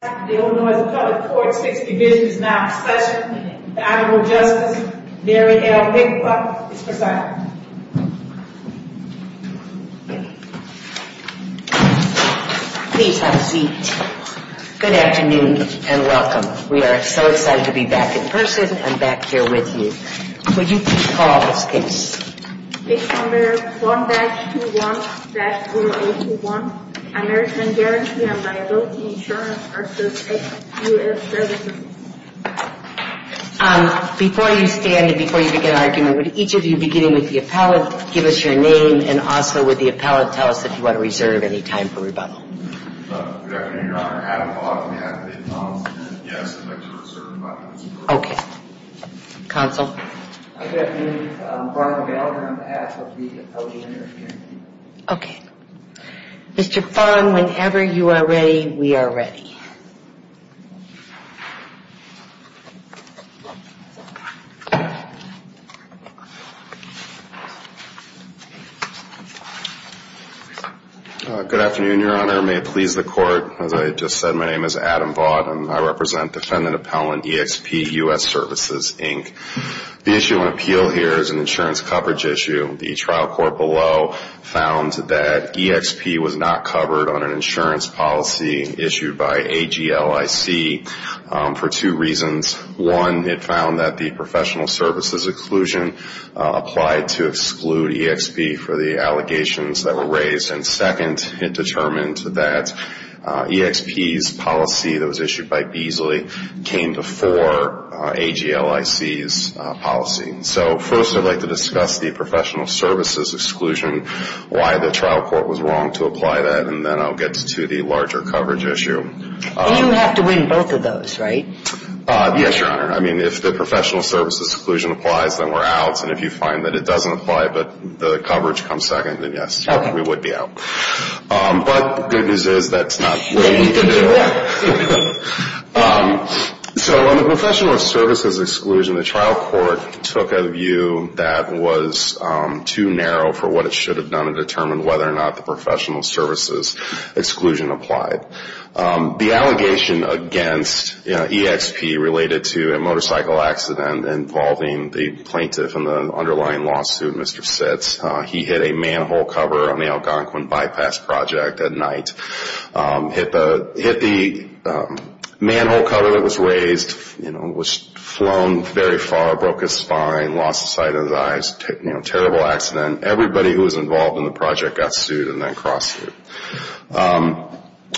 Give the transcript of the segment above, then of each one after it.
The Illinois Department of Court's 6th Division is now in session. The Honorable Justice Mary L. Pickpocket is presiding. Please have a seat. Good afternoon and welcome. We are so excited to be back in person and back here with you. Would you please call the case. Case number 1-21-0021, American Guarantee & Liability Insurance v. EXP US Services. Before you stand and before you begin argument, would each of you, beginning with the appellate, give us your name and also would the appellate tell us if you want to reserve any time for rebuttal. Good afternoon, Your Honor. Adam Hawthorne, appellate. Yes, I'd like to reserve my time for rebuttal. Counsel. Good afternoon. Brian Gallagher, I'm the appellate. Mr. Fong, whenever you are ready, we are ready. Good afternoon, Your Honor. May it please the Court. As I just said, my name is Adam Vaught and I represent Defendant Appellant EXP US Services, Inc. The issue on appeal here is an insurance coverage issue. The trial court below found that EXP was not covered on an insurance policy issued by EXP. It was issued by AGLIC for two reasons. One, it found that the professional services exclusion applied to exclude EXP for the allegations that were raised. And second, it determined that EXP's policy that was issued by Beazley came before AGLIC's policy. So first, I'd like to discuss the professional services exclusion, why the trial court was wrong to apply that, and then I'll get to the larger coverage issue. And you have to win both of those, right? Yes, Your Honor. I mean, if the professional services exclusion applies, then we're out. And if you find that it doesn't apply but the coverage comes second, then yes, we would be out. But the good news is that's not what we can do. So on the professional services exclusion, the trial court took a view that was too narrow for what it should have done and determined whether or not the professional services exclusion applied. The allegation against EXP related to a motorcycle accident involving the plaintiff in the underlying lawsuit, Mr. Sitz. He hit a manhole cover on the Algonquin Bypass Project at night. Hit the manhole cover that was raised, was flown very far, broke his spine, lost sight of his eyes. Terrible accident. Everybody who was involved in the project got sued and then cross-sued.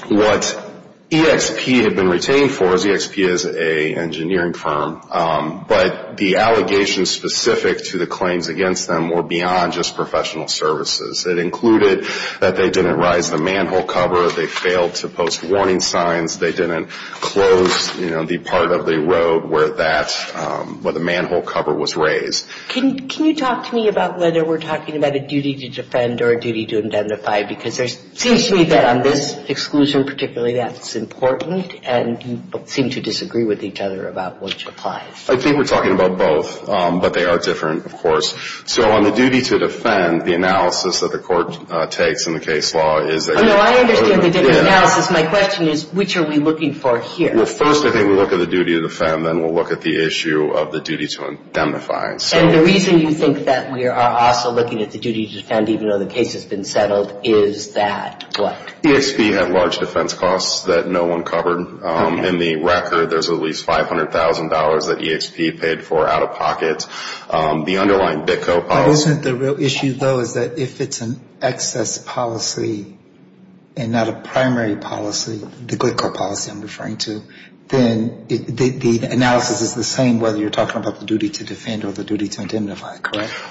What EXP had been retained for is EXP is an engineering firm, but the allegations specific to the claims against them were beyond just professional services. It included that they didn't rise the manhole cover, they failed to post warning signs, they didn't close the part of the road where the manhole cover was raised. Can you talk to me about whether we're talking about a duty to defend or a duty to indemnify? Because it seems to me that on this exclusion particularly that's important, and you seem to disagree with each other about which applies. I think we're talking about both, but they are different, of course. So on the duty to defend, the analysis that the court takes in the case law is that... And the reason you think that we are also looking at the duty to defend, even though the case has been settled, is that what? EXP had large defense costs that no one covered. In the record, there's at least $500,000 that EXP paid for out of pocket. The underlying BITCO policy... But isn't the real issue, though, is that if it's an excess policy and not a primary policy, the BITCO policy I'm referring to, then the analysis is the same, whether you're talking about the duty to defend or the duty to indemnify.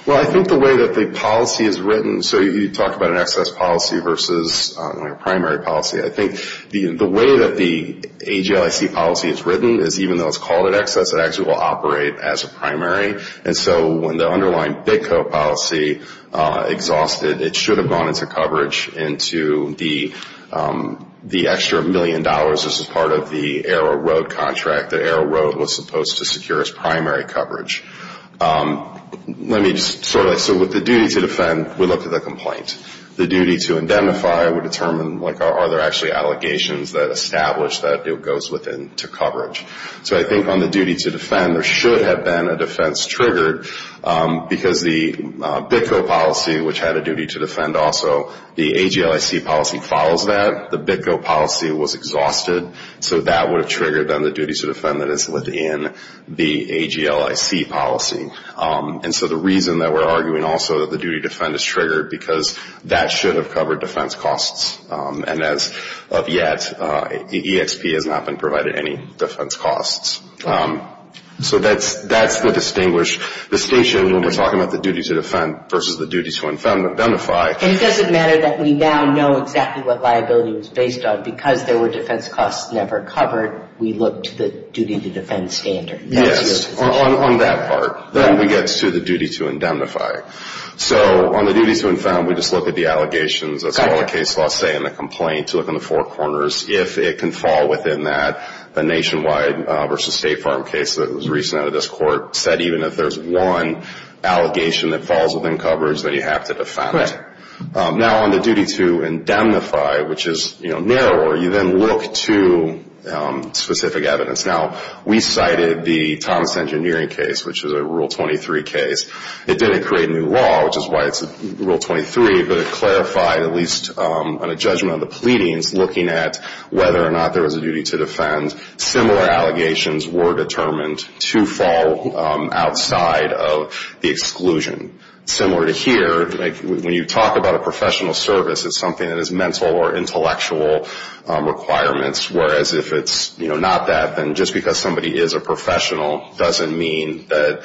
Well, I think the way that the policy is written... So you talk about an excess policy versus a primary policy. I think the way that the AJLIC policy is written is even though it's called an excess, it actually will operate as a primary. And so when the underlying BITCO policy exhausted, it should have gone into coverage into the extra million dollars. This is part of the Arrow Road contract that Arrow Road was supposed to secure as primary coverage. Let me just sort of... So with the duty to defend, we look at the complaint. The duty to indemnify would determine, like, are there actually allegations that establish that it goes within to coverage. So I think on the duty to defend, there should have been a defense triggered because the BITCO policy, which had a duty to defend also, the AJLIC policy follows that. The BITCO policy was exhausted, so that would have triggered then the duty to defend that is within the AJLIC policy. And so the reason that we're arguing also that the duty to defend is triggered, because that should have covered defense costs. And as of yet, EXP has not been provided any defense costs. So that's the distinguished distinction when we're talking about the duty to defend versus the duty to indemnify. And it doesn't matter that we now know exactly what liability was based on because there were defense costs never covered. So on that part, we look to the duty to defend standard. Yes, on that part. Then we get to the duty to indemnify. So on the duty to indemnify, we just look at the allegations. That's what all the case laws say in the complaint, to look in the four corners. If it can fall within that, the nationwide versus State Farm case that was recently out of this court said even if there's one allegation that falls within coverage that you have to defend. Now, on the duty to indemnify, which is narrower, you then look to specific evidence. Now, we cited the Thomas Engineering case, which is a Rule 23 case. It didn't create new law, which is why it's Rule 23, but it clarified at least on a judgment of the pleadings looking at whether or not there was a duty to defend. Similar allegations were determined to fall outside of the exclusion. Similar to here, when you talk about a professional service, it's something that is mental or intellectual requirements, whereas if it's not that, then just because somebody is a professional doesn't mean that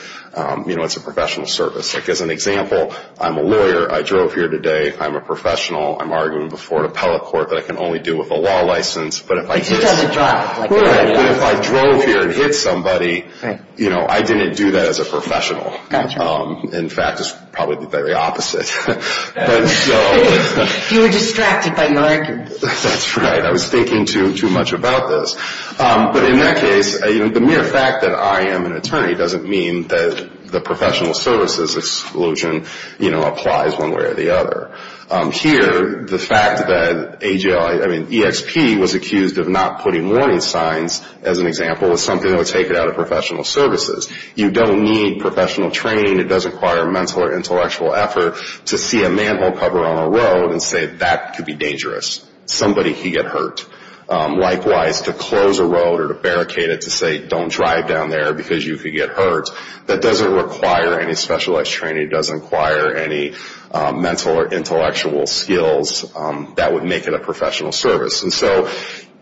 it's a professional service. As an example, I'm a lawyer. I drove here today. I'm a professional. I'm arguing before an appellate court that I can only do with a law license. But if I drove here and hit somebody, I didn't do that as a professional. In fact, it's probably the very opposite. That's right. I was thinking too much about this. But in that case, the mere fact that I am an attorney doesn't mean that the professional services exclusion applies one way or the other. Here, the fact that EXP was accused of not putting warning signs, as an example, is something that would take it out of professional services. You don't need professional training. It doesn't require mental or intellectual effort to see a manhole cover on a road and say that could be dangerous. Somebody could get hurt. Likewise, to close a road or to barricade it to say don't drive down there because you could get hurt, that doesn't require any specialized training. It doesn't require any mental or intellectual skills that would make it a professional service. And so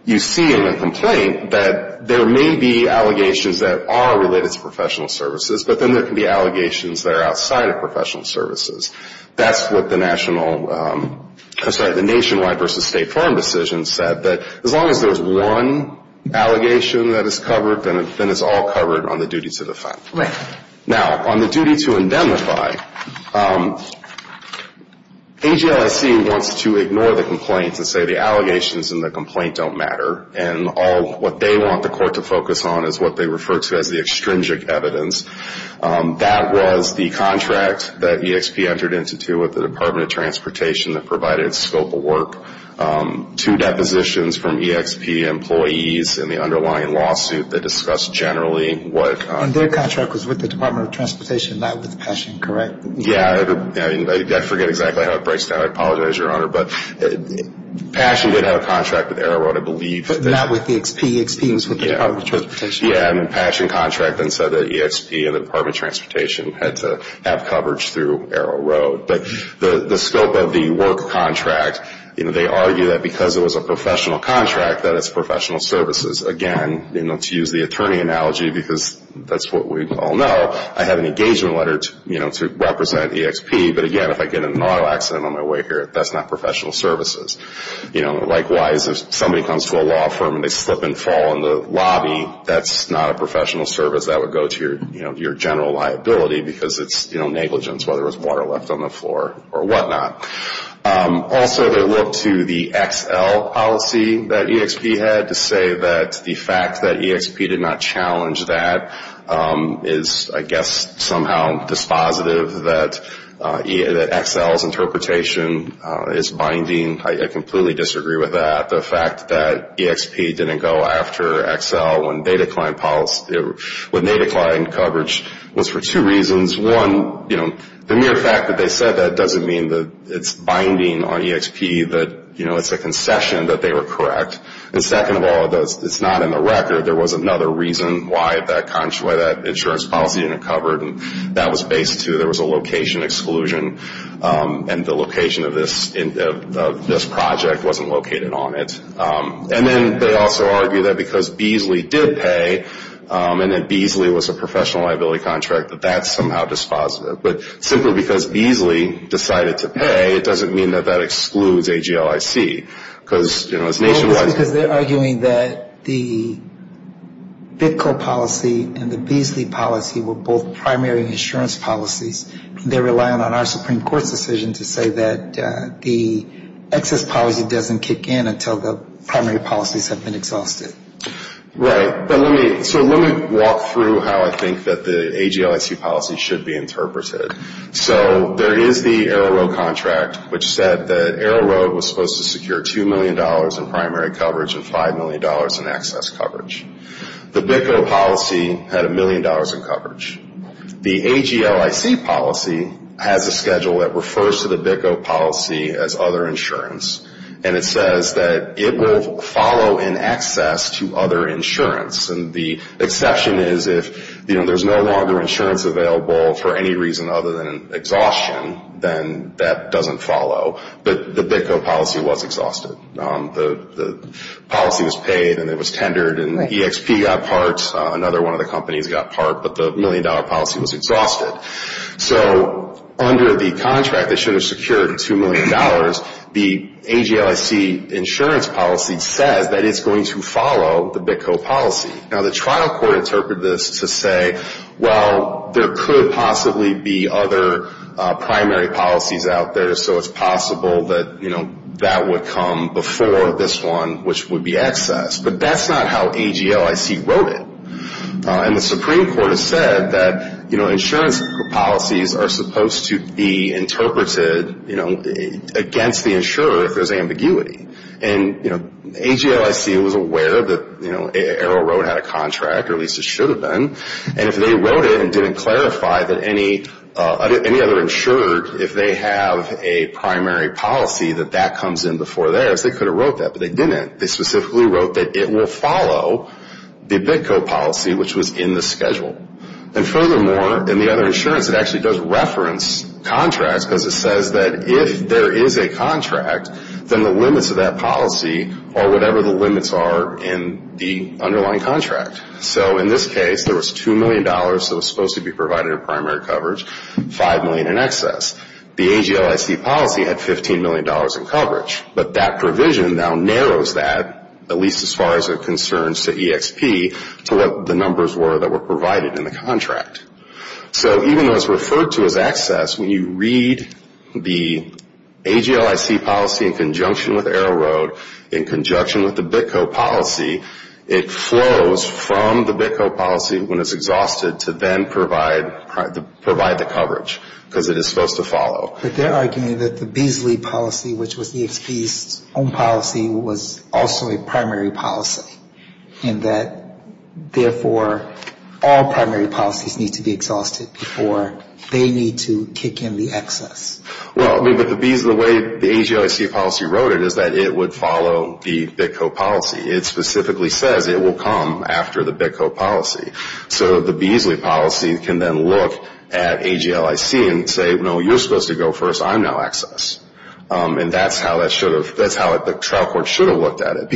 you see in the complaint that there may be allegations that are related to professional services, but then there can be allegations that are outside of professional services. That's what the national, I'm sorry, the nationwide versus state firm decision said, that as long as there's one allegation that is covered, then it's all covered on the duty to defend. Now, on the duty to indemnify, AGLIC wants to ignore the complaints and say the allegations in the complaint don't matter, and all what they want the court to focus on is what they refer to as the extrinsic evidence. That was the contract that EXP entered into with the Department of Transportation that provided scope of work. Two depositions from EXP employees in the underlying lawsuit that discussed generally what... And their contract was with the Department of Transportation, not with Passion, correct? Yeah. I forget exactly how it breaks down. I apologize, Your Honor. But Passion did have a contract with AeroRoad, I believe. But not with EXP. EXP was with the Department of Transportation. Yeah. And Passion contract then said that EXP and the Department of Transportation had to have coverage through AeroRoad. But the scope of the work contract, they argue that because it was a professional contract, that it's professional services. Again, to use the attorney analogy, because that's what we all know, I have an engagement letter to represent EXP. But again, if I get in an auto accident on my way here, that's not professional services. Likewise, if somebody comes to a law firm and they slip and fall in the lobby, that's not a professional service. That would go to your general liability because it's negligence, whether it's water left on the floor or whatnot. Also, they look to the XL policy that EXP had to say that the fact that EXP did not challenge that is, I guess, somehow dispositive that XL's interpretation is binding. I completely disagree with that. The fact that EXP didn't go after XL when they declined coverage was for two reasons. One, the mere fact that they said that doesn't mean that it's binding on EXP, that it's a concession that they were correct. And second of all, it's not in the record. There was another reason why that insurance policy didn't cover it, and that was based, too. There was a location exclusion, and the location of this project wasn't located on it. And then they also argue that because Beasley did pay and that Beasley was a professional liability contract, that that's somehow dispositive. But simply because Beasley decided to pay, it doesn't mean that that excludes AGLIC. Because, you know, it's nationwide. Well, it's because they're arguing that the BITCO policy and the Beasley policy were both primary insurance policies. They're relying on our Supreme Court's decision to say that the excess policy doesn't kick in until the primary policies have been exhausted. Right. So let me walk through how I think that the AGLIC policy should be interpreted. So there is the Arrow Road contract, which said that Arrow Road was supposed to secure $2 million in primary coverage and $5 million in excess coverage. The BITCO policy had $1 million in coverage. The AGLIC policy has a schedule that refers to the BITCO policy as other insurance, and it says that it will follow in excess the primary policy, and that's to other insurance. And the exception is if, you know, there's no longer insurance available for any reason other than exhaustion, then that doesn't follow. But the BITCO policy was exhausted. The policy was paid and it was tendered, and the EXP got part. Another one of the companies got part, but the million-dollar policy was exhausted. So under the contract that should have secured $2 million, the AGLIC insurance policy says that it's going to follow the BITCO policy. Now, the trial court interpreted this to say, well, there could possibly be other primary policies out there, so it's possible that, you know, that would come before this one, which would be excess. But that's not how AGLIC wrote it. And the Supreme Court has said that, you know, insurance policies are supposed to be interpreted, you know, against the insurer if there's ambiguity. And, you know, AGLIC was aware that, you know, AeroRoad had a contract, or at least it should have been. And if they wrote it and didn't clarify that any other insurer, if they have a primary policy, that that comes in before theirs, they could have wrote that. But they didn't. They specifically wrote that it will follow the BITCO policy, which was in the schedule. And furthermore, in the other insurance, it actually does reference contracts because it says that if there is a contract, then the limits of that policy are whatever the limits are in the underlying contract. So in this case, there was $2 million that was supposed to be provided in primary coverage, $5 million in excess. The AGLIC policy had $15 million in coverage. But that provision now narrows that, at least as far as it concerns to EXP, to what the numbers were that were provided in the contract. So even though it's referred to as excess, when you read the AGLIC policy in conjunction with AeroRoad, in conjunction with the BITCO policy, it flows from the BITCO policy when it's exhausted to then provide the coverage. Because it is supposed to follow. But they're arguing that the Beazley policy, which was EXP's own policy, was also a primary policy, and that, therefore, all primary policies need to be exhausted before they need to kick in the excess. Well, I mean, but the way the AGLIC policy wrote it is that it would follow the BITCO policy. It specifically says it will come after the BITCO policy. So the Beazley policy can then look at AGLIC and say, no, you're supposed to go first. I'm now excess. And that's how the trial court should have looked at it.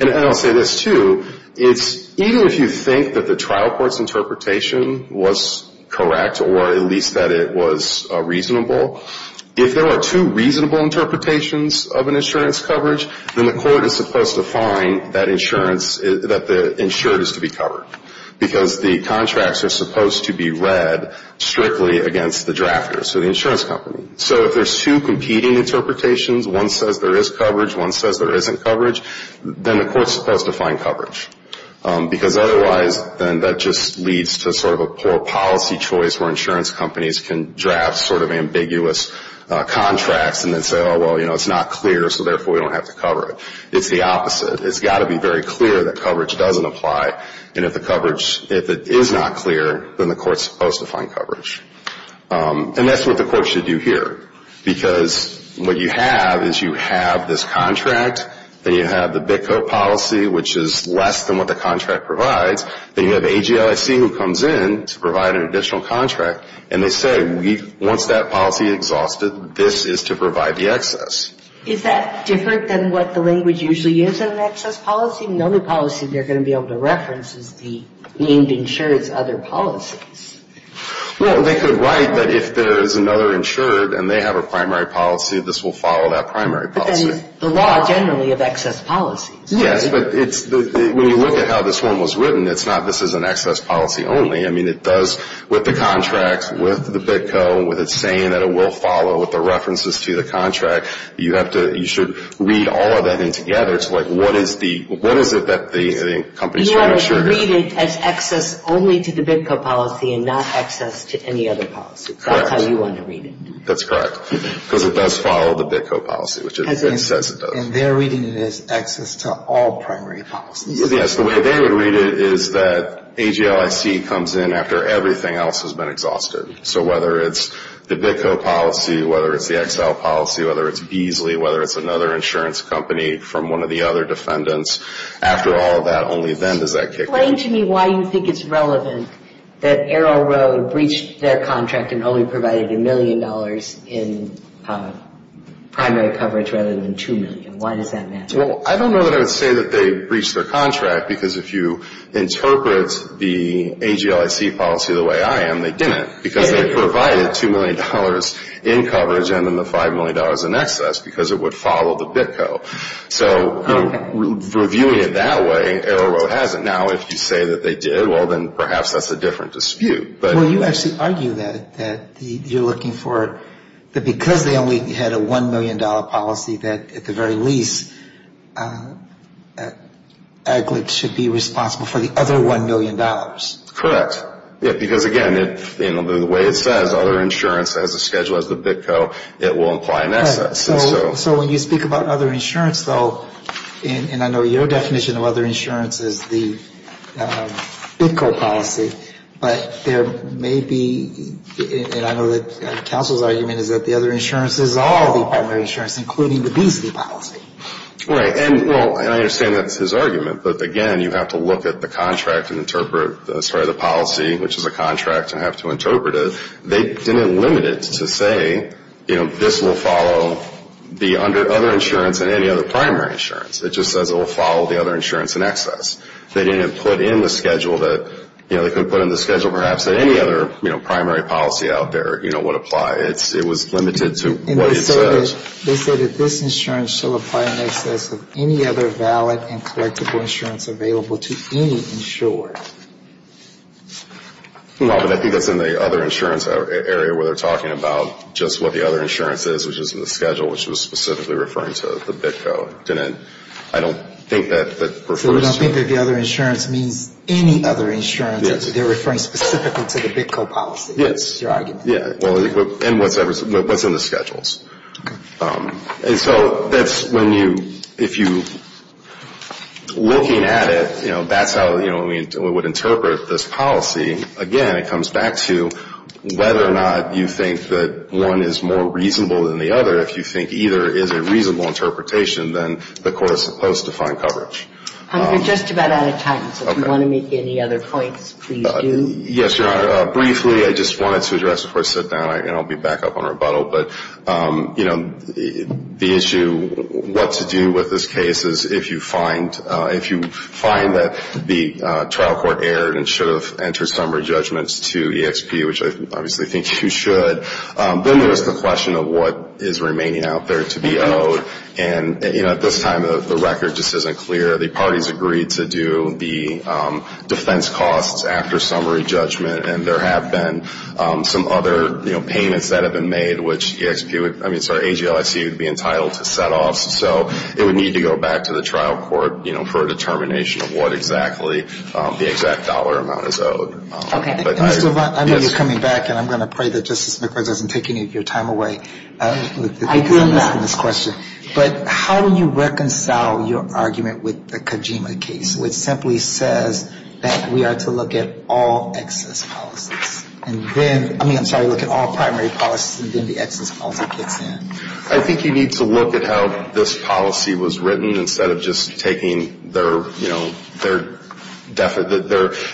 And I'll say this, too. It's, even if you think that the trial court's interpretation was correct, or at least that it was reasonable, if there were two reasonable interpretations of an insurance coverage, then the court is supposed to find that insurance, that the insured is to be covered. Because the contracts are supposed to be read strictly against the drafters, so the insurance company. So if there's two competing interpretations, one says there is coverage, one says there isn't coverage, then the court's supposed to find coverage. Because otherwise, then that just leads to sort of a poor policy choice where insurance companies can draft sort of ambiguous contracts and then say, oh, well, you know, it's not clear, so therefore we don't have to cover it. It's the opposite. It's got to be very clear that coverage doesn't apply, and if the coverage, if it is not clear, then the court's supposed to find coverage. And that's what the court should do here. Because what you have is you have this contract, then you have the BITCO policy, which is less than what the contract provides, then you have AGLIC who comes in to provide an additional contract, and they say, once that policy is exhausted, this is to provide the excess. Is that different than what the language usually is in an excess policy? The only policy they're going to be able to reference is the named insured's other policies. Well, they could write that if there's another insured and they have a primary policy, this will follow that primary policy. But then the law generally of excess policies. Yes, but it's, when you look at how this one was written, it's not this is an excess policy only. I mean, it does, with the contract, with the BITCO, with it saying that it will follow, with the references to the contract, you have to, you should read all of that in together to, like, what is the, what is it that the company's trying to insure here? You want to read it as excess only to the BITCO policy and not excess to any other policy. Correct. That's how you want to read it. That's correct, because it does follow the BITCO policy, which it says it does. And they're reading it as excess to all primary policies. Yes, the way they would read it is that AGLIC comes in after everything else has been exhausted. So whether it's the BITCO policy, whether it's the XL policy, whether it's Beasley, whether it's another insurance company from one of the other defendants, after all of that, only then does that kick in. You're explaining to me why you think it's relevant that Arrow Road breached their contract and only provided $1 million in primary coverage rather than $2 million. Why does that matter? Well, I don't know that I would say that they breached their contract, because if you interpret the AGLIC policy the way I am, they didn't, because they provided $2 million in coverage and then the $5 million in excess, because it would follow the BITCO. So reviewing it that way, Arrow Road hasn't. Now, if you say that they did, well, then perhaps that's a different dispute. Well, you actually argue that you're looking for, that because they only had a $1 million policy, that at the very least, AGLIC should be responsible for the other $1 million. Correct. Because, again, the way it says, other insurance has a schedule, has the BITCO, it will imply an excess. So when you speak about other insurance, though, and I know your definition of other insurance is the BITCO policy, but there may be, and I know that counsel's argument is that the other insurance is all the primary insurance, including the Beasley policy. Right. And, well, and I understand that's his argument, but, again, you have to look at the contract and interpret, sorry, the policy, which is a contract, and have to interpret it. They didn't limit it to say, you know, this will follow the other insurance and any other primary insurance. It just says it will follow the other insurance in excess. They didn't put in the schedule that, you know, they couldn't put in the schedule perhaps that any other, you know, primary policy out there, you know, would apply. It was limited to what it says. They said that this insurance shall apply in excess of any other valid and collectible insurance available to any insured. No, but I think that's in the other insurance area where they're talking about just what the other insurance is, which is in the schedule, which was specifically referring to the BITCO. Didn't, I don't think that that refers to. So you don't think that the other insurance means any other insurance? Yes. So they're referring specifically to the BITCO policy. Yes. Your argument. Yeah. And what's in the schedules. Okay. And so that's when you, if you, looking at it, you know, that's how, you know, we would interpret this policy. Again, it comes back to whether or not you think that one is more reasonable than the other if you think either is a reasonable interpretation than the Court is supposed to find coverage. We're just about out of time, so if you want to make any other points, please do. Yes, Your Honor. Briefly, I just wanted to address before I sit down, and I'll be back up on rebuttal, but, you know, the issue, what to do with this case is if you find, if you find that the trial court erred and should have entered summary judgments to EXP, which I obviously think you should, then there's the question of what is remaining out there to be owed. And, you know, at this time, the record just isn't clear. The parties agreed to do the defense costs after summary judgment, and there have been some other, you know, payments that have been made, which EXP would, I mean, sorry, AGLIC would be entitled to set-offs. So it would need to go back to the trial court, you know, for a determination of what exactly the exact dollar amount is owed. Okay. And Mr. Levin, I know you're coming back, and I'm going to pray that Justice McQuarrie doesn't take any of your time away. Because I'm missing this question. But how do you reconcile your argument with the Kojima case, which simply says that we are to look at all excess policies, and then, I mean, I'm sorry, look at all primary policies, and then the excess policy kicks in? I think you need to look at how this policy was written instead of just taking their, you know, their,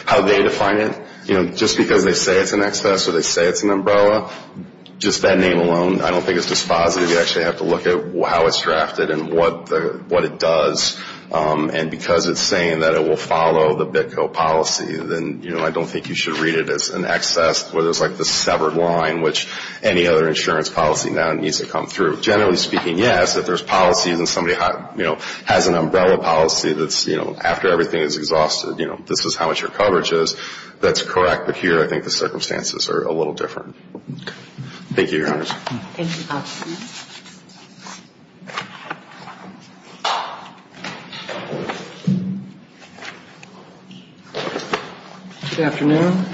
how they define it, you know, just because they say it's an excess or they say it's an umbrella. Just that name alone, I don't think it's dispositive. You actually have to look at how it's drafted and what it does. And because it's saying that it will follow the BITCO policy, then, you know, I don't think you should read it as an excess where there's like this severed line, which any other insurance policy now needs to come through. Generally speaking, yes, if there's policies and somebody, you know, has an umbrella policy that's, you know, after everything is exhausted, you know, this is how much your coverage is, that's correct. But here, I think the circumstances are a little different. Thank you, Your Honor. Thank you, counsel. Good afternoon.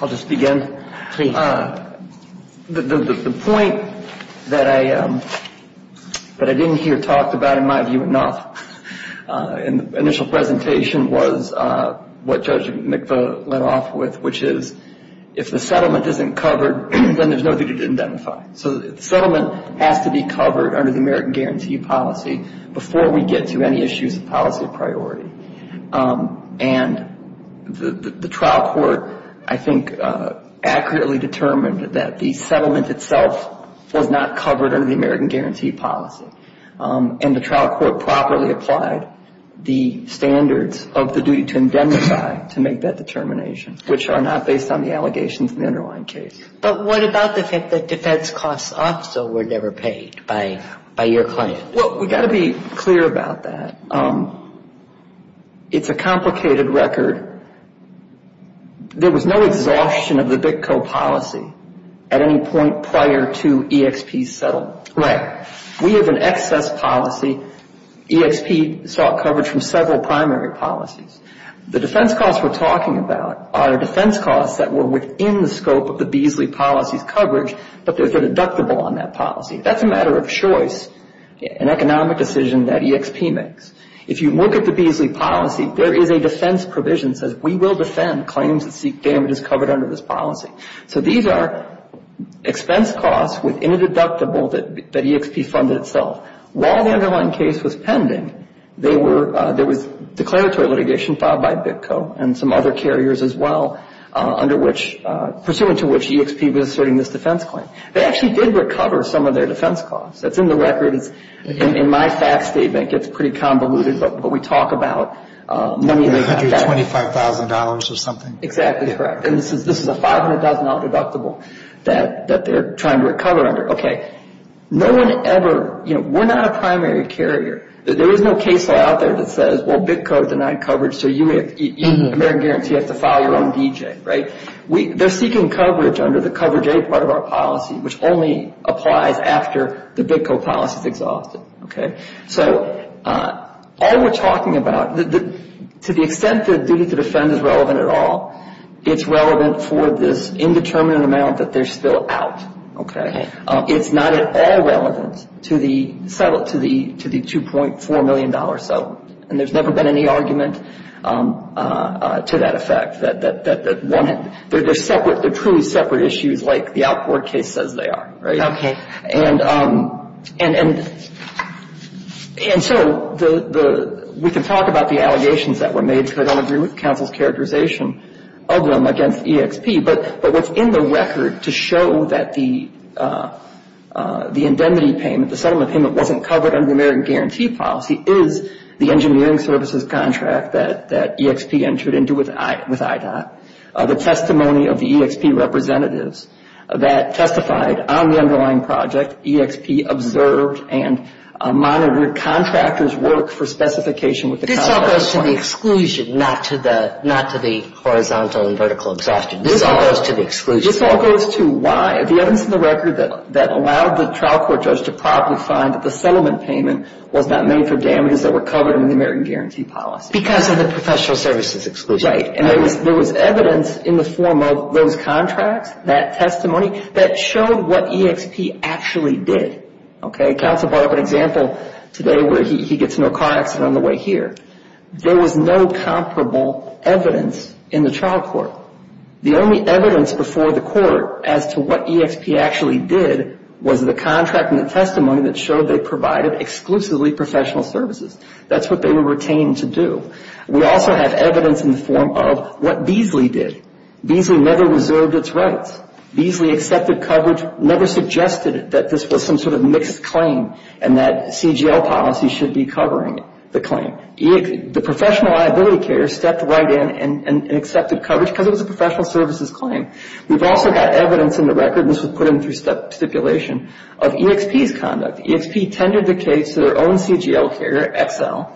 I'll just begin. Please. The point that I didn't hear talked about, in my view, enough in the initial presentation, was what Judge McFarland said. And I think that's what he led off with, which is if the settlement isn't covered, then there's no duty to identify. So the settlement has to be covered under the American Guarantee Policy before we get to any issues of policy priority. And the trial court, I think, accurately determined that the settlement itself was not covered under the American Guarantee Policy. And the trial court properly applied the standards of the duty to identify to make that determination. Which are not based on the allegations in the underlying case. But what about the fact that defense costs also were never paid by your client? Well, we've got to be clear about that. It's a complicated record. There was no exhaustion of the BITCO policy at any point prior to EXP's settlement. Right. We have an excess policy. EXP sought coverage from several primary policies. The defense costs we're talking about are defense costs that were within the scope of the Beasley policy's coverage, but there's a deductible on that policy. That's a matter of choice, an economic decision that EXP makes. If you look at the Beasley policy, there is a defense provision that says we will defend claims that seek damages covered under this policy. So these are expense costs within a deductible that EXP funded itself. While the underlying case was pending, there was declaratory litigation filed by BITCO and some other carriers as well. Under which, pursuant to which EXP was asserting this defense claim. They actually did recover some of their defense costs. That's in the record. In my fact statement, it gets pretty convoluted, but we talk about. $125,000 or something. Exactly correct. And this is a $500,000 deductible that they're trying to recover under. We're not a primary carrier. There is no case law out there that says BITCO denied coverage, so you have to file your own DJ. They're seeking coverage under the Cover J part of our policy, which only applies after the BITCO policy is exhausted. All we're talking about, to the extent that duty to defend is relevant at all, it's relevant for this indeterminate amount that they're still out. It's not at all relevant to the $2.4 million settlement. And there's never been any argument to that effect. They're truly separate issues, like the outboard case says they are. Okay. And so we can talk about the allegations that were made, because I don't agree with counsel's characterization of them against EXP. But what's in the record to show that the indemnity payment, the settlement payment, wasn't covered under the American Guarantee Policy is the engineering services contract that EXP entered into with IDOT. The testimony of the EXP representatives that testified on the underlying project, EXP observed and monitored contractors' work for specification with the Congress. This all goes to the exclusion, not to the horizontal and vertical exhaustion. This all goes to why, the evidence in the record that allowed the trial court judge to probably find that the settlement payment was not made for damages that were covered under the American Guarantee Policy. Because of the professional services exclusion. Right. And there was evidence in the form of those contracts, that testimony, that showed what EXP actually did. Okay. Counsel brought up an example today where he gets in a car accident on the way here. There was no comparable evidence in the trial court. The only evidence before the court as to what EXP actually did was the contract and the testimony that showed they provided exclusively professional services. That's what they were retained to do. We also have evidence in the form of what Beasley did. Beasley never reserved its rights. Beasley accepted coverage, never suggested that this was some sort of mixed claim and that CGL policy should be covering the claim. The professional liability carrier stepped right in and accepted coverage because it was a professional services claim. We've also got evidence in the record, and this was put in through stipulation, of EXP's conduct. EXP tended the case to their own CGL carrier, XL,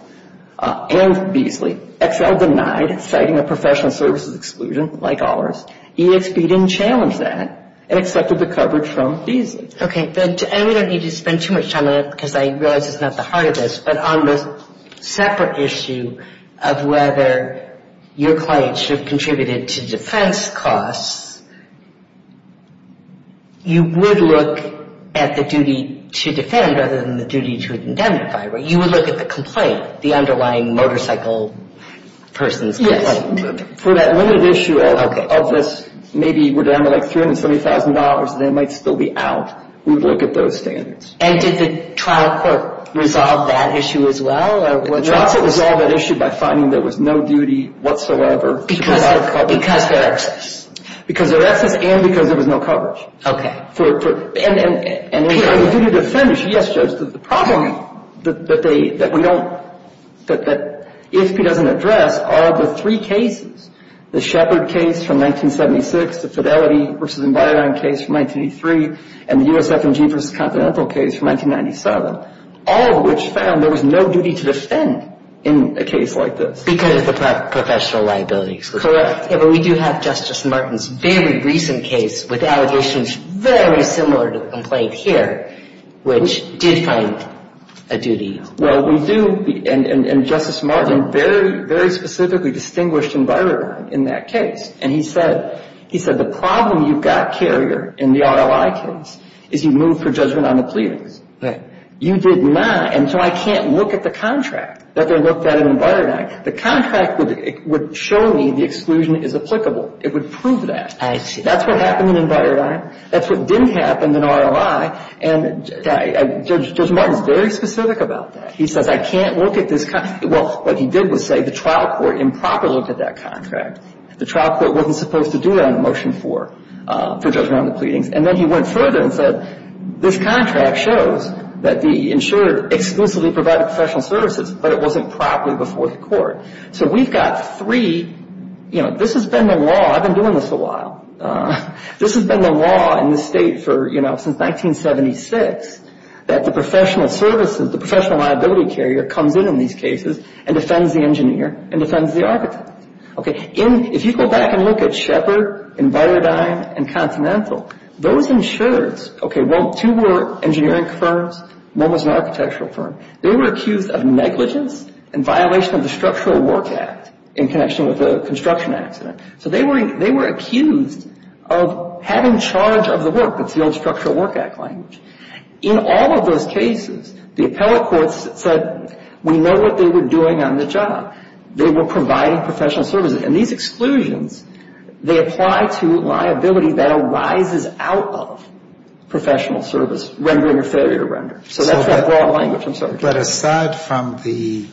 and Beasley. XL denied citing a professional services exclusion, like ours. EXP didn't challenge that and accepted the coverage from Beasley. Okay. And we don't need to spend too much time on it because I realize it's not the heart of this, but on the separate issue of whether your client should have contributed to defense costs, you would look at the duty to defend rather than the duty to indemnify, right? You would look at the complaint, the underlying motorcycle person's complaint. For that limited issue of this, maybe we're down to like $370,000 and they might still be out, we would look at those standards. And did the trial court resolve that issue as well? The trial court resolved that issue by finding there was no duty whatsoever to provide coverage. Because there were excess. Because there were excess and because there was no coverage. Okay. And on the duty to defend issue, yes, Judge, the problem that they, that we don't, that EXP doesn't address are the three cases. The Shepard case from 1976, the Fidelity v. Embargo case from 1983, and the USFMG v. Continental case from 1997. All of which found there was no duty to defend in a case like this. Because of the professional liabilities. Correct. Yeah, but we do have Justice Martin's very recent case with allegations very similar to the complaint here, which did find a duty. Well, we do, and Justice Martin very, very specifically distinguished Embargo in that case. And he said, he said, the problem you've got, Carrier, in the RLI case, is you've moved for judgment on the pleadings. Right. You did not, and so I can't look at the contract that they looked at in Embargo. I can't look at the contract that they looked at in Embargo. I can't look at the contract that they looked at in the RLI. The contract would show me the exclusion is applicable. It would prove that. I see. That's what happened in Embargo. That's what didn't happen in RLI. And Judge Martin's very specific about that. He says, I can't look at this. Well, what he did was say the trial court improperly looked at that contract. The trial court wasn't supposed to do that on a motion for judgment on the pleadings. And then he went further and said, this contract shows that the insured exclusively provided professional services, but it wasn't properly before the court. So we've got three, you know, this has been the law. I've been doing this a while. This has been the law in the state for, you know, since 1976, that the professional services, the professional liability carrier comes in in these cases and defends the engineer and defends the architect. Okay. If you go back and look at Sheppard and Byrdine and Continental, those insurers, okay, well, two were engineering firms, one was an architectural firm. They were accused of negligence and violation of the Structural Work Act in connection with a construction accident. So they were accused of having charge of the work. That's the old Structural Work Act language. In all of those cases, the appellate courts said, we know what they were doing on the job. They were providing professional services. And these exclusions, they apply to liability that arises out of professional service, rendering or failure to render. So that's that broad language, I'm sorry. But aside from the,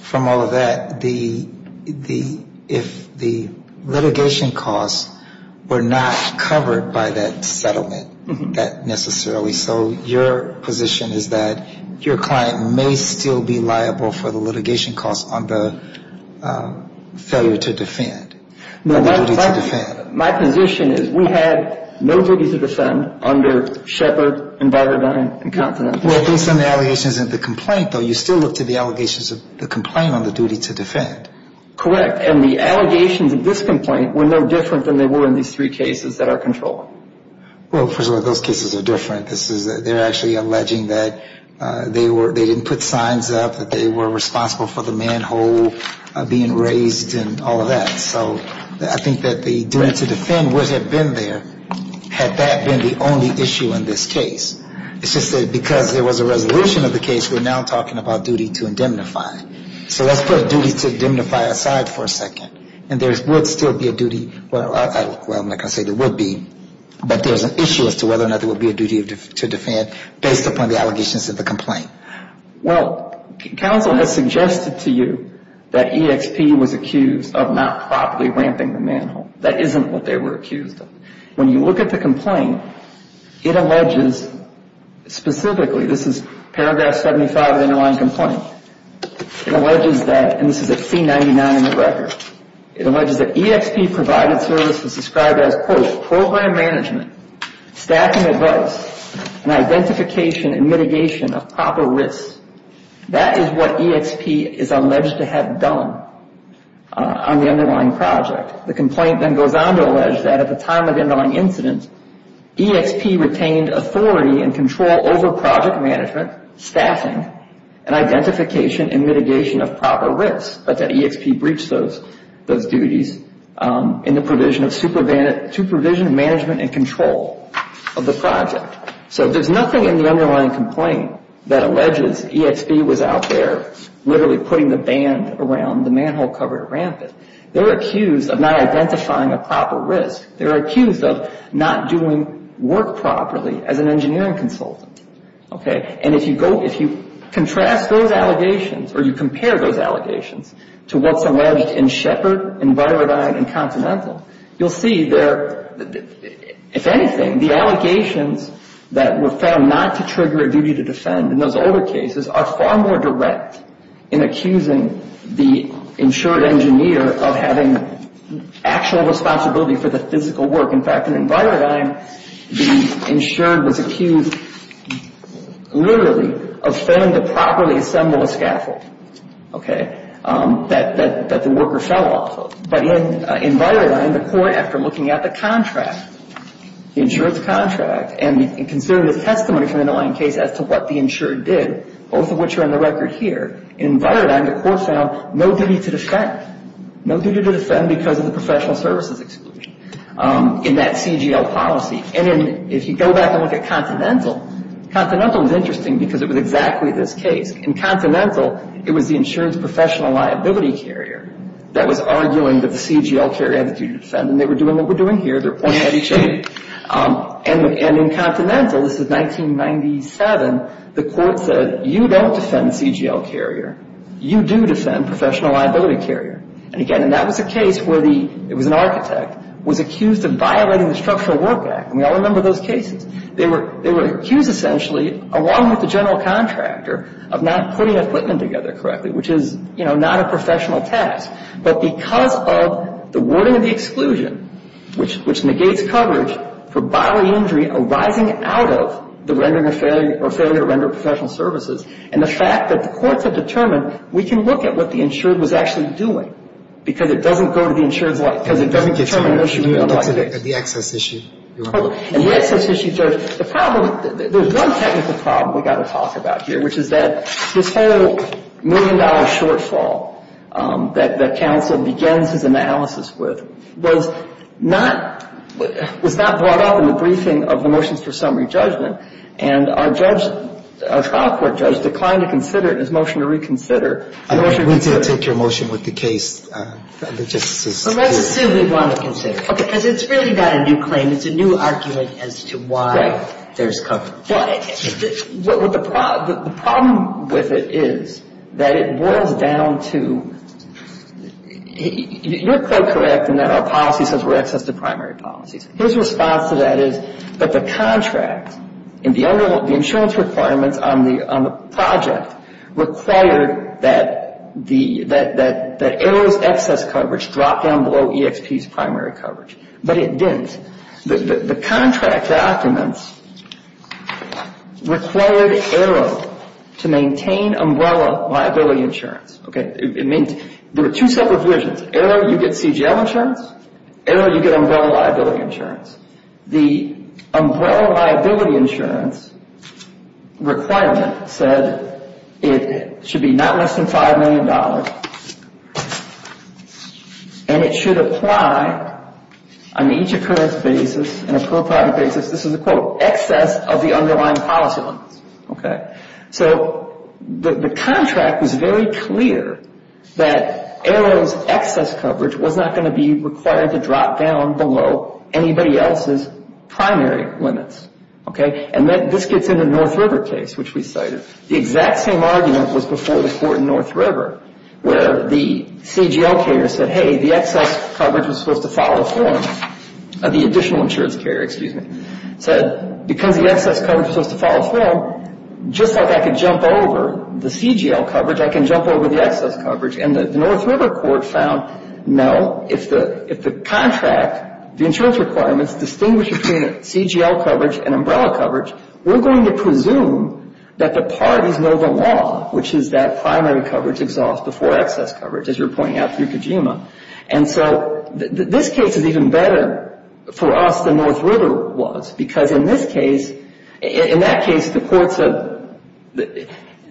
from all of that, the, if the litigation costs were not covered by that settlement, that necessarily, so your position is that your client may still be liable for the litigation costs on the failure to defend, the duty to defend. My position is we had no duty to defend under Sheppard and Byrdine and Continental. Well, based on the allegations of the complaint, though, you still look to the allegations of the complaint on the duty to defend. Correct. And the allegations of this complaint were no different than they were in these three cases that are controlled. Well, first of all, those cases are different. They're actually alleging that they didn't put signs up, that they were responsible for the manhole being raised and all of that. So I think that the duty to defend would have been there had that been the only issue in this case. It's just that because there was a resolution of the case, we're now talking about duty to indemnify. So let's put duty to indemnify aside for a second. And there would still be a duty. Well, like I say, there would be. But there's an issue as to whether or not there would be a duty to defend based upon the allegations of the complaint. Well, counsel has suggested to you that EXP was accused of not properly ramping the manhole. That isn't what they were accused of. When you look at the complaint, it alleges specifically, this is paragraph 75 of the underlying complaint. It alleges that, and this is at C-99 in the record. It alleges that EXP provided services described as, quote, program management, staffing advice, and identification and mitigation of proper risks. That is what EXP is alleged to have done on the underlying project. The complaint then goes on to allege that at the time of the underlying incident, EXP retained authority and control over project management, staffing, and identification and mitigation of proper risks, but that EXP breached those duties in the provision of management and control of the project. So there's nothing in the underlying complaint that alleges EXP was out there literally putting the band around the manhole cover to ramp it. They're accused of not identifying a proper risk. They're accused of not doing work properly as an engineering consultant. Okay? And if you contrast those allegations or you compare those allegations to what's alleged in Shepard and Virodine and Continental, you'll see there, if anything, the allegations that were found not to trigger a duty to defend in those older cases are far more direct in accusing the insured engineer of having actual responsibility for the physical work. In fact, in Virodine, the insured was accused literally of failing to properly assemble a scaffold, okay, that the worker fell off of. But in Virodine, the court, after looking at the contract, the insured's contract, and considering the testimony from the underlying case as to what the insured did, both of which are on the record here, in Virodine, the court found no duty to defend. No duty to defend because of the professional services exclusion in that CGL policy. And if you go back and look at Continental, Continental was interesting because it was exactly this case. In Continental, it was the insurance professional liability carrier that was arguing that the CGL carrier had the duty to defend, and they were doing what we're doing here. They're pointing at each other. And in Continental, this is 1997, the court said, you don't defend the CGL carrier. You do defend professional liability carrier. And again, and that was a case where the, it was an architect, was accused of violating the Structural Work Act, and we all remember those cases. They were accused essentially, along with the general contractor, of not putting equipment together correctly, which is, you know, not a professional task. But because of the wording of the exclusion, which negates coverage for bodily injury arising out of the rendering of failure, or failure to render professional services, and the fact that the courts have determined we can look at what the insured was actually doing because it doesn't go to the insured's life, because it doesn't determine an issue of life. And let me get to the access issue. And the access issue, the problem, there's one technical problem we've got to talk about here, which is that this whole million-dollar shortfall that counsel begins his analysis with was not brought up in the briefing of the motions for summary judgment. And our judge, our trial court judge, declined to consider it in his motion to reconsider. The motion to reconsider. We did take your motion with the case. Let's assume they want to consider it. Okay. Because it's really not a new claim. It's a new argument as to why there's coverage. The problem with it is that it boils down to, you're quite correct in that our policy says we're access to primary policies. His response to that is that the contract and the insurance requirements on the project required that Arrow's excess coverage drop down below EXP's primary coverage. But it didn't. The contract documents required Arrow to maintain umbrella liability insurance. Okay. There are two subdivisions. Arrow, you get CGL insurance. Arrow, you get umbrella liability insurance. The umbrella liability insurance requirement said it should be not less than $5 million. And it should apply on each occurrence basis, on a per project basis, this is a quote, excess of the underlying policy limits. Okay. So the contract was very clear that Arrow's excess coverage was not going to be required to drop down below anybody else's primary limits. Okay. And this gets into the North River case, which we cited. The exact same argument was before the court in North River. Where the CGL carrier said, hey, the excess coverage was supposed to fall afloat. The additional insurance carrier, excuse me, said, because the excess coverage was supposed to fall afloat, just like I could jump over the CGL coverage, I can jump over the excess coverage. And the North River court found, no, if the contract, the insurance requirements, distinguish between CGL coverage and umbrella coverage, we're going to presume that the parties know the law, which is that primary coverage exhaust before excess coverage, as you were pointing out through Kojima. And so this case is even better for us than North River was, because in this case, in that case, the court said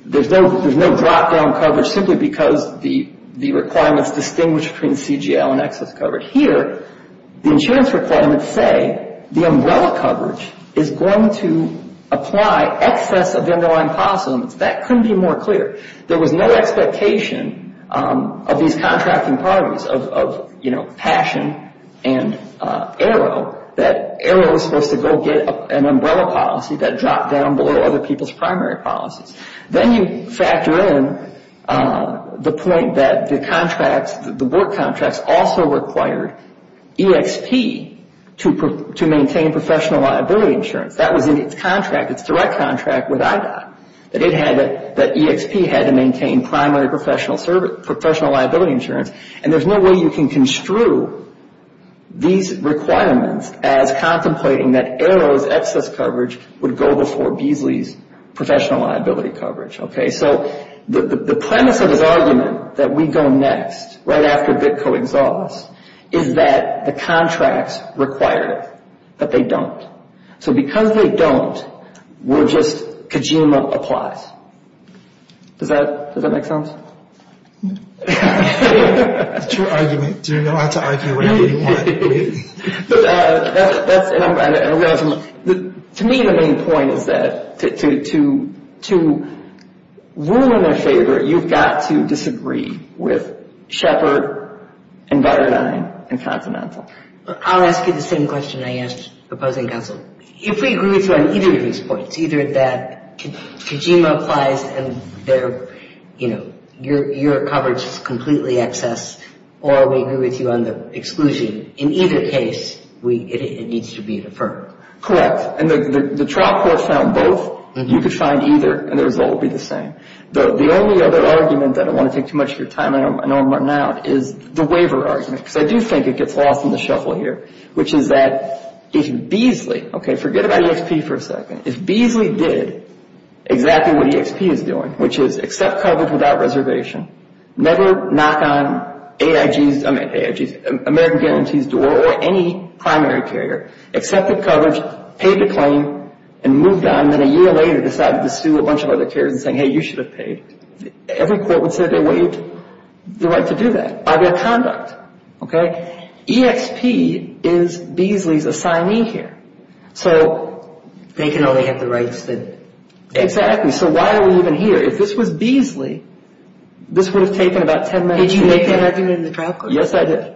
there's no drop-down coverage simply because the requirements distinguish between CGL and excess coverage. Here, the insurance requirements say the umbrella coverage is going to apply excess of underlying policy limits. That couldn't be more clear. There was no expectation of these contracting parties of, you know, Passion and Arrow, that Arrow was supposed to go get an umbrella policy that dropped down below other people's primary policies. Then you factor in the point that the contracts, the board contracts, also required EXP to maintain professional liability insurance. That was in its contract, its direct contract with IDOT, that EXP had to maintain primary professional liability insurance. And there's no way you can construe these requirements as contemplating that Arrow's excess coverage would go before Beasley's professional liability coverage. So the premise of his argument that we go next, right after VITCO exhausts, is that the contracts require it, but they don't. So because they don't, we're just Kojima applies. Does that make sense? It's your argument. Do you know how to argue whatever you want? To me, the main point is that to rule in their favor, you've got to disagree with Shepard and Byrdine and Continental. I'll ask you the same question I asked the opposing counsel. If we agree with you on either of these points, either that Kojima applies and their, you know, your coverage is completely excess, or we agree with you on the exclusion, in either case, it needs to be deferred. Correct. And the trial court found both. You could find either, and the result would be the same. The only other argument, I don't want to take too much of your time, I know I'm running out, is the waiver argument. Because I do think it gets lost in the shuffle here, which is that if Beasley, okay, forget about EXP for a second, if Beasley did exactly what EXP is doing, which is accept coverage without reservation, never knock on AIG's, I meant AIG's, American Guaranty's door or any primary carrier, accepted coverage, paid the claim, and moved on, then a year later decided to sue a bunch of other carriers and saying, hey, you should have paid, every court would say they waived the right to do that. Other conduct, okay? EXP is Beasley's assignee here. So. They can only have the rights that. Exactly. So why are we even here? If this was Beasley, this would have taken about ten minutes. Did you make that argument in the trial court? Yes, I did.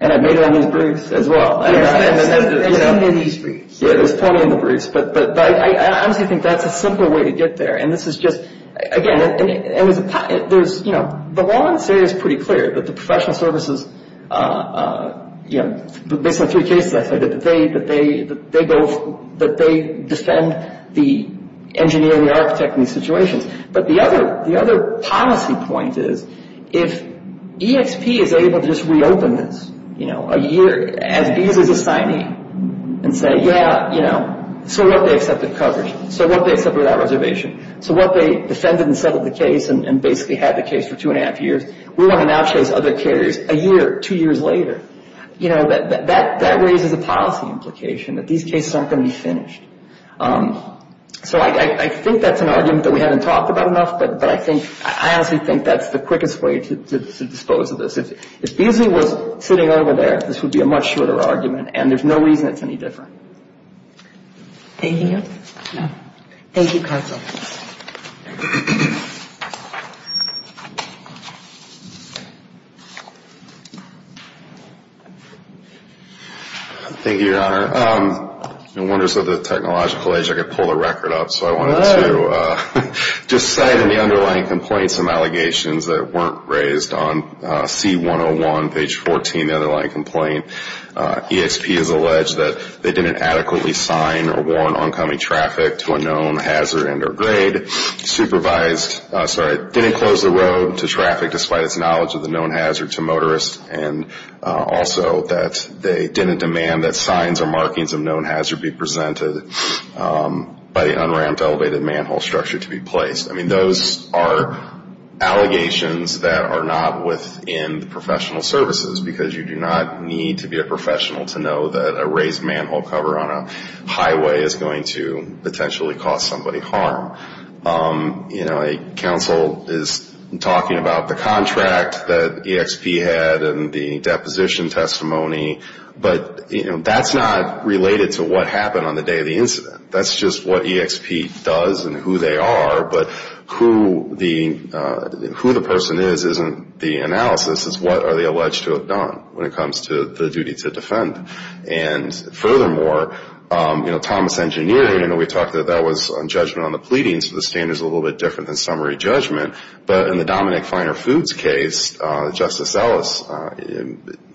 And I made it on these briefs as well. Yes, there's plenty of these briefs. Yeah, there's plenty in the briefs. But I honestly think that's a simpler way to get there. And this is just, again, there's, you know, the law in this area is pretty clear, that the professional services, you know, based on three cases I cited, that they defend the engineer, the architect in these situations. But the other policy point is, if EXP is able to just reopen this, you know, a year, as Beasley's assignee, and say, yeah, you know, so what, they accepted coverage. So what, they accepted that reservation. So what, they defended and settled the case and basically had the case for two and a half years. We want to now chase other carriers a year, two years later. You know, that raises a policy implication that these cases aren't going to be finished. So I think that's an argument that we haven't talked about enough, but I honestly think that's the quickest way to dispose of this. If Beasley was sitting over there, this would be a much shorter argument, and there's no reason it's any different. Thank you. Thank you, counsel. Thank you, Your Honor. No wonder, as a technological agent, I could pull the record up. So I wanted to just cite in the underlying complaint some allegations that weren't raised on C101, page 14, the underlying complaint. EXP has alleged that they didn't adequately sign or warrant oncoming traffic to a known hazard and or grade, supervised, sorry, didn't close the road to traffic, despite its knowledge of the known hazard, to motorists, and also that they didn't demand that signs or markings of known hazard be presented by the unramped elevated manhole structure to be placed. I mean, those are allegations that are not within the professional services, because you do not need to be a professional to know that a raised manhole cover on a highway is going to potentially cause somebody harm. You know, counsel is talking about the contract that EXP had and the deposition testimony, but that's not related to what happened on the day of the incident. That's just what EXP does and who they are, but who the person is isn't the analysis. It's what are they alleged to have done when it comes to the duty to defend. And furthermore, you know, Thomas Engineering, we talked that that was on judgment on the pleading, so the standard is a little bit different than summary judgment. But in the Dominick Finer Foods case, Justice Ellis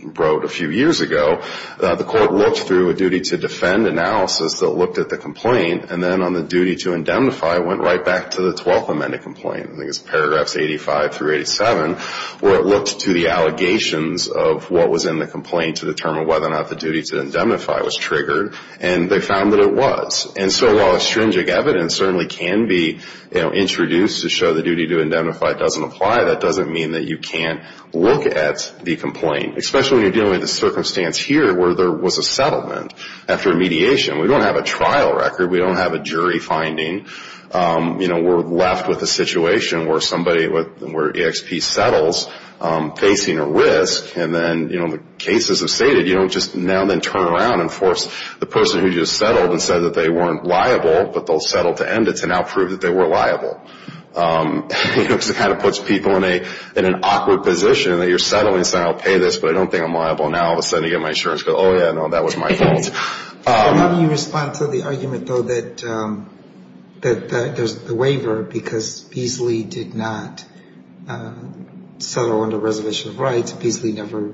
wrote a few years ago, the court looked through a duty to defend analysis that looked at the complaint, and then on the duty to indemnify, it went right back to the 12th Amendment complaint. I think it's paragraphs 85 through 87, where it looked to the allegations of what was in the complaint to determine whether or not the duty to indemnify was triggered, and they found that it was. And so while extrinsic evidence certainly can be introduced to show the duty to indemnify doesn't apply, that doesn't mean that you can't look at the complaint, especially when you're dealing with a circumstance here where there was a settlement after mediation. We don't have a trial record. We don't have a jury finding. You know, we're left with a situation where somebody, where EXP settles, facing a risk, and then, you know, the cases have stated, you know, just now then turn around and force the person who just settled and said that they weren't liable, but they'll settle to end it to now prove that they were liable. You know, because it kind of puts people in an awkward position, that you're settling, saying I'll pay this, but I don't think I'm liable. Now all of a sudden I get my insurance, go, oh, yeah, no, that was my fault. How do you respond to the argument, though, that there's the waiver, because Beasley did not settle under Reservation of Rights? Beasley never,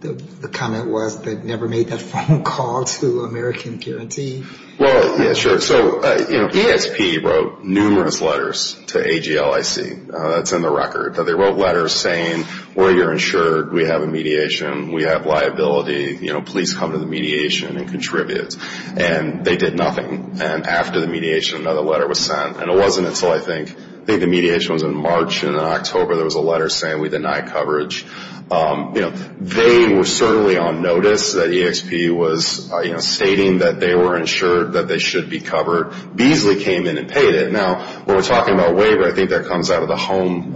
the comment was they never made that phone call to American Guarantee. Well, yeah, sure. So, you know, EXP wrote numerous letters to AGLIC. That's in the record. They wrote letters saying, well, you're insured. We have a mediation. We have liability. You know, please come to the mediation and contribute. And they did nothing. And after the mediation, another letter was sent. And it wasn't until I think, I think the mediation was in March and in October there was a letter saying we deny coverage. You know, they were certainly on notice that EXP was, you know, stating that they were insured, that they should be covered. Beasley came in and paid it. Now, when we're talking about waiver, I think that comes out of the home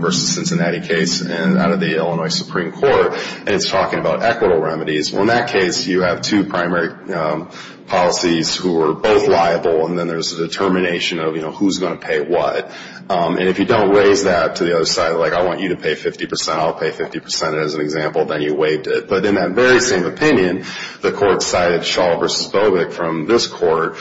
versus Cincinnati case out of the Illinois Supreme Court, and it's talking about equitable remedies. Well, in that case, you have two primary policies who are both liable, and then there's a determination of, you know, who's going to pay what. And if you don't raise that to the other side, like I want you to pay 50 percent, I'll pay 50 percent as an example, then you waived it. But in that very same opinion, the court cited Shaw v. Bogick from this court,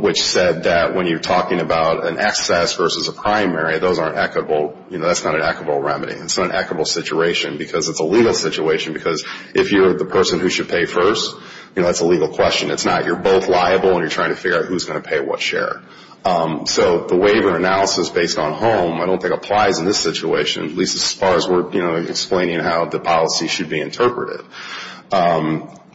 which said that when you're talking about an excess versus a primary, those aren't equitable. You know, that's not an equitable remedy. It's not an equitable situation because it's a legal situation. Because if you're the person who should pay first, you know, that's a legal question. It's not you're both liable and you're trying to figure out who's going to pay what share. So the waiver analysis based on home I don't think applies in this situation, at least as far as we're, you know, explaining how the policy should be interpreted.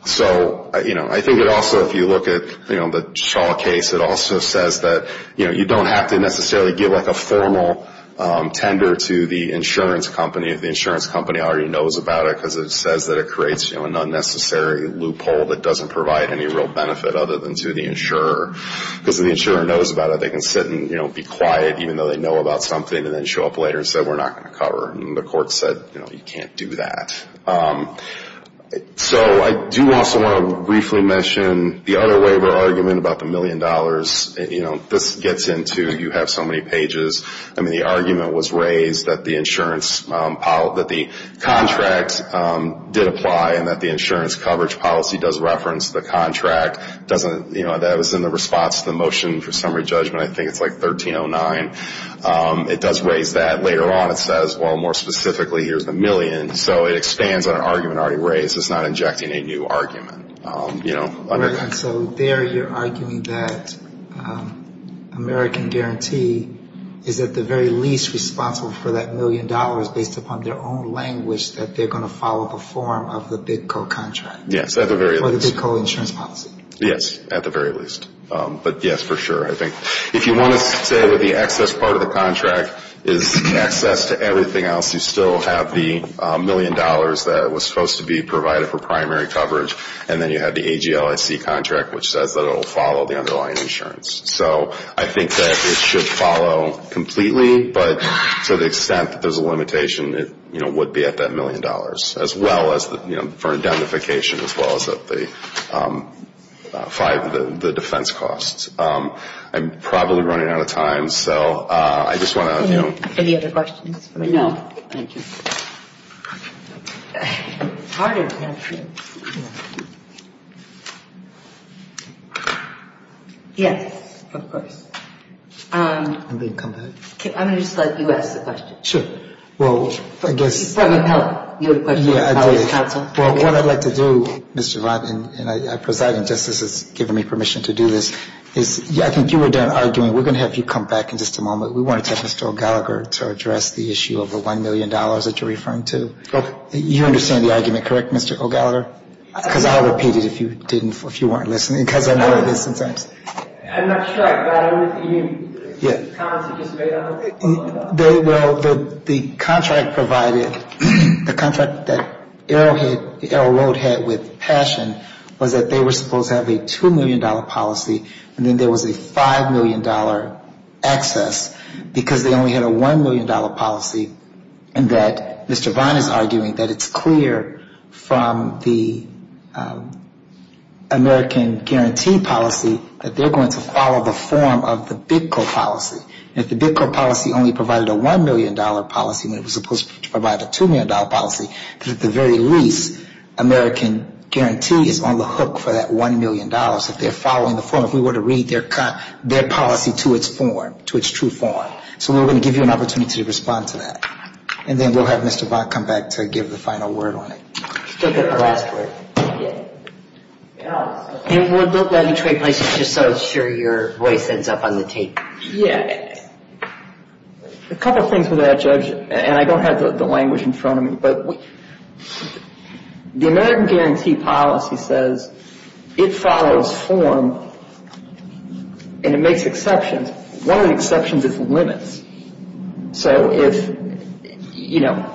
So, you know, I think it also, if you look at, you know, the Shaw case, it also says that, you know, you don't have to necessarily give like a formal tender to the insurance company if the insurance company already knows about it because it says that it creates, you know, an unnecessary loophole that doesn't provide any real benefit other than to the insurer. Because if the insurer knows about it, they can sit and, you know, be quiet even though they know about something and then show up later and say we're not going to cover. And the court said, you know, you can't do that. So I do also want to briefly mention the other waiver argument about the million dollars. You know, this gets into you have so many pages. I mean, the argument was raised that the insurance, that the contract did apply and that the insurance coverage policy does reference the contract. You know, that was in the response to the motion for summary judgment. I think it's like 1309. It does raise that. Later on it says, well, more specifically, here's the million. So it expands on an argument already raised. It's not injecting a new argument, you know. And so there you're arguing that American Guarantee is at the very least responsible for that million dollars based upon their own language that they're going to follow the form of the big co-contract. Yes, at the very least. Or the big co-insurance policy. Yes, at the very least. But yes, for sure, I think. If you want to say that the excess part of the contract is access to everything else, you still have the million dollars that was supposed to be provided for primary coverage, and then you have the AGLIC contract, which says that it will follow the underlying insurance. So I think that it should follow completely, but to the extent that there's a limitation, it would be at that million dollars, as well as for identification, as well as at the defense costs. I'm probably running out of time, so I just want to, you know. Any other questions? No, thank you. Pardon. Yes, of course. I'm going to come back. I'm going to just let you ask the question. Sure. Well, I guess. If that would help. Yeah, I did. Well, what I'd like to do, Mr. Vaughn, and I preside, and Justice has given me permission to do this, is I think you were done arguing. We're going to have you come back in just a moment. We want to turn this to O'Gallagher to address the issue of the $1 million that you're referring to. Okay. You understand the argument, correct, Mr. O'Gallagher? Because I'll repeat it if you didn't, if you weren't listening, because I know it is sometimes. I'm not sure I got everything. Yeah. Well, the contract provided, the contract that Arrowhead, Arrow Road had with Passion, was that they were supposed to have a $2 million policy, and then there was a $5 million access, because they only had a $1 million policy, and that Mr. Vaughn is arguing that it's clear from the American guarantee policy that they're going to follow the form of the Bitco policy. And if the Bitco policy only provided a $1 million policy when it was supposed to provide a $2 million policy, at the very least, American guarantee is on the hook for that $1 million. If they're following the form, if we were to read their policy to its form, to its true form. So we're going to give you an opportunity to respond to that. And then we'll have Mr. Vaughn come back to give the final word on it. Still got the last word. Yeah. And we'll build that into a place just so I'm sure your voice ends up on the tape. Yeah. A couple things with that, Judge, and I don't have the language in front of me, but the American guarantee policy says it follows form and it makes exceptions. One of the exceptions is limits. So if, you know,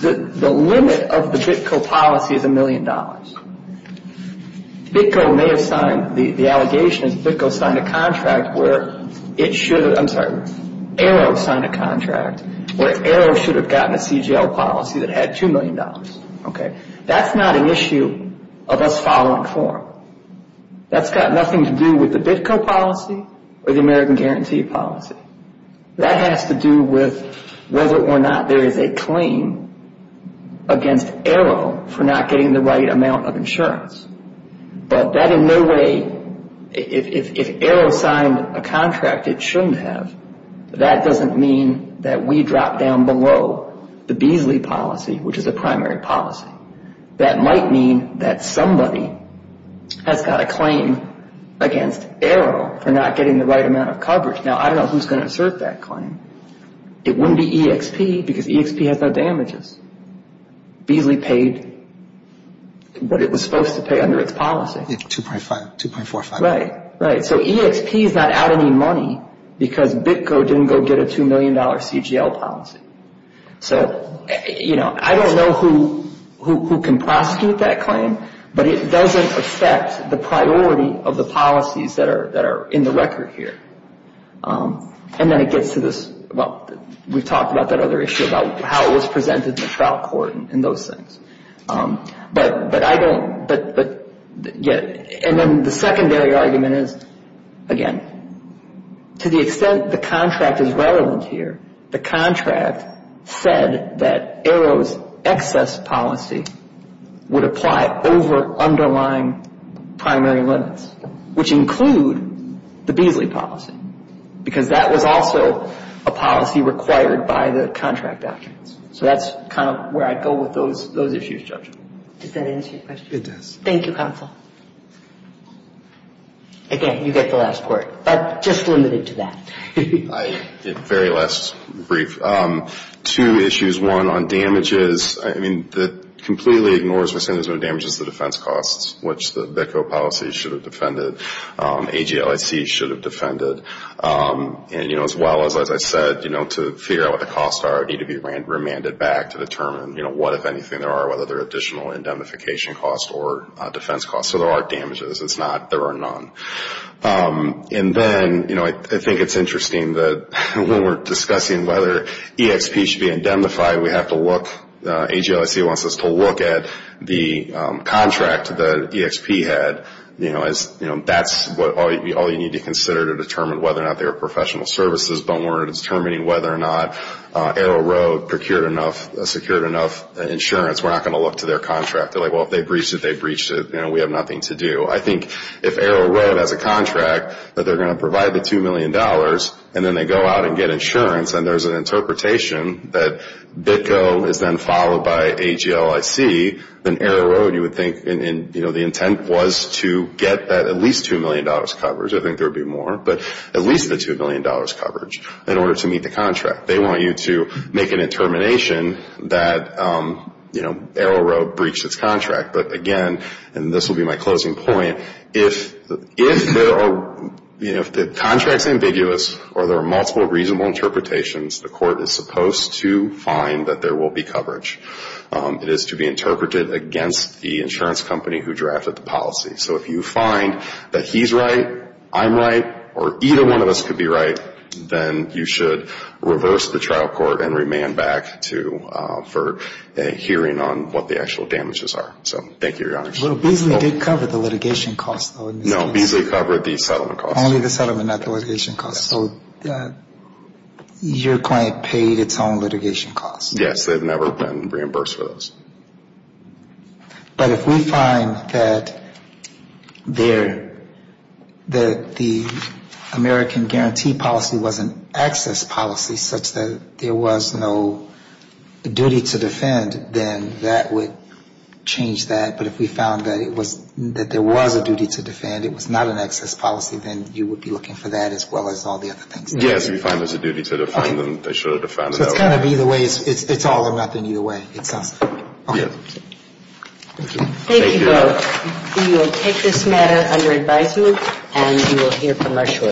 the limit of the Bitco policy is $1 million, Bitco may have signed, the allegation is Bitco signed a contract where it should have, I'm sorry, Arrow signed a contract where Arrow should have gotten a CGL policy that had $2 million. Okay. That's not an issue of us following form. That's got nothing to do with the Bitco policy or the American guarantee policy. That has to do with whether or not there is a claim against Arrow for not getting the right amount of insurance. But that in no way, if Arrow signed a contract it shouldn't have, that doesn't mean that we drop down below the Beasley policy, which is a primary policy. That might mean that somebody has got a claim against Arrow for not getting the right amount of coverage. Now, I don't know who is going to assert that claim. It wouldn't be EXP because EXP has no damages. Beasley paid what it was supposed to pay under its policy. 2.45. Right, right. So EXP is not out any money because Bitco didn't go get a $2 million CGL policy. So, you know, I don't know who can prosecute that claim, but it doesn't affect the priority of the policies that are in the record here. And then it gets to this, well, we've talked about that other issue, about how it was presented in the trial court and those things. But I don't, and then the secondary argument is, again, to the extent the contract is relevant here, the contract said that Arrow's excess policy would apply over underlying primary limits, which include the Beasley policy because that was also a policy required by the contract documents. So that's kind of where I'd go with those issues, Judge. Does that answer your question? It does. Thank you, Counsel. Again, you get the last part, but just limited to that. Very last brief. Two issues. One, on damages, I mean, that completely ignores, we're saying there's no damages to defense costs, which the Bitco policy should have defended. AGLIC should have defended. And, you know, as well as, as I said, you know, to figure out what the costs are, it would need to be remanded back to determine, you know, what, if anything, there are, whether there are additional indemnification costs or defense costs. So there are damages. It's not there are none. And then, you know, I think it's interesting that when we're discussing whether EXP should be indemnified, we have to look, AGLIC wants us to look at the contract that EXP had, you know, as that's all you need to consider to determine whether or not they were professional services, but we're determining whether or not Arrow Road procured enough, secured enough insurance. We're not going to look to their contract. They're like, well, if they breached it, they breached it. You know, we have nothing to do. I think if Arrow Road has a contract that they're going to provide the $2 million and then they go out and get insurance and there's an interpretation that BITCO is then followed by AGLIC, then Arrow Road, you would think, you know, the intent was to get that at least $2 million coverage. I think there would be more, but at least the $2 million coverage in order to meet the contract. They want you to make an determination that, you know, Arrow Road breached its contract. But, again, and this will be my closing point, if there are, you know, if the contract is ambiguous or there are multiple reasonable interpretations, the court is supposed to find that there will be coverage. It is to be interpreted against the insurance company who drafted the policy. So if you find that he's right, I'm right, or either one of us could be right, then you should reverse the trial court and remand back for a hearing on what the actual damages are. So thank you, Your Honor. Well, Beasley did cover the litigation costs, though, in this case. No, Beasley covered the settlement costs. Only the settlement, not the litigation costs. So your client paid its own litigation costs. Yes, they've never been reimbursed for those. But if we find that the American Guarantee Policy was an access policy such that there was no duty to defend, then that would change that. But if we found that there was a duty to defend, it was not an access policy, then you would be looking for that as well as all the other things. Yes, we find there's a duty to defend, and they should have defended that way. It's kind of either way. It's all or nothing either way. It's not. Okay. Thank you. Thank you both. We will take this matter under advisement, and you will hear from us shortly.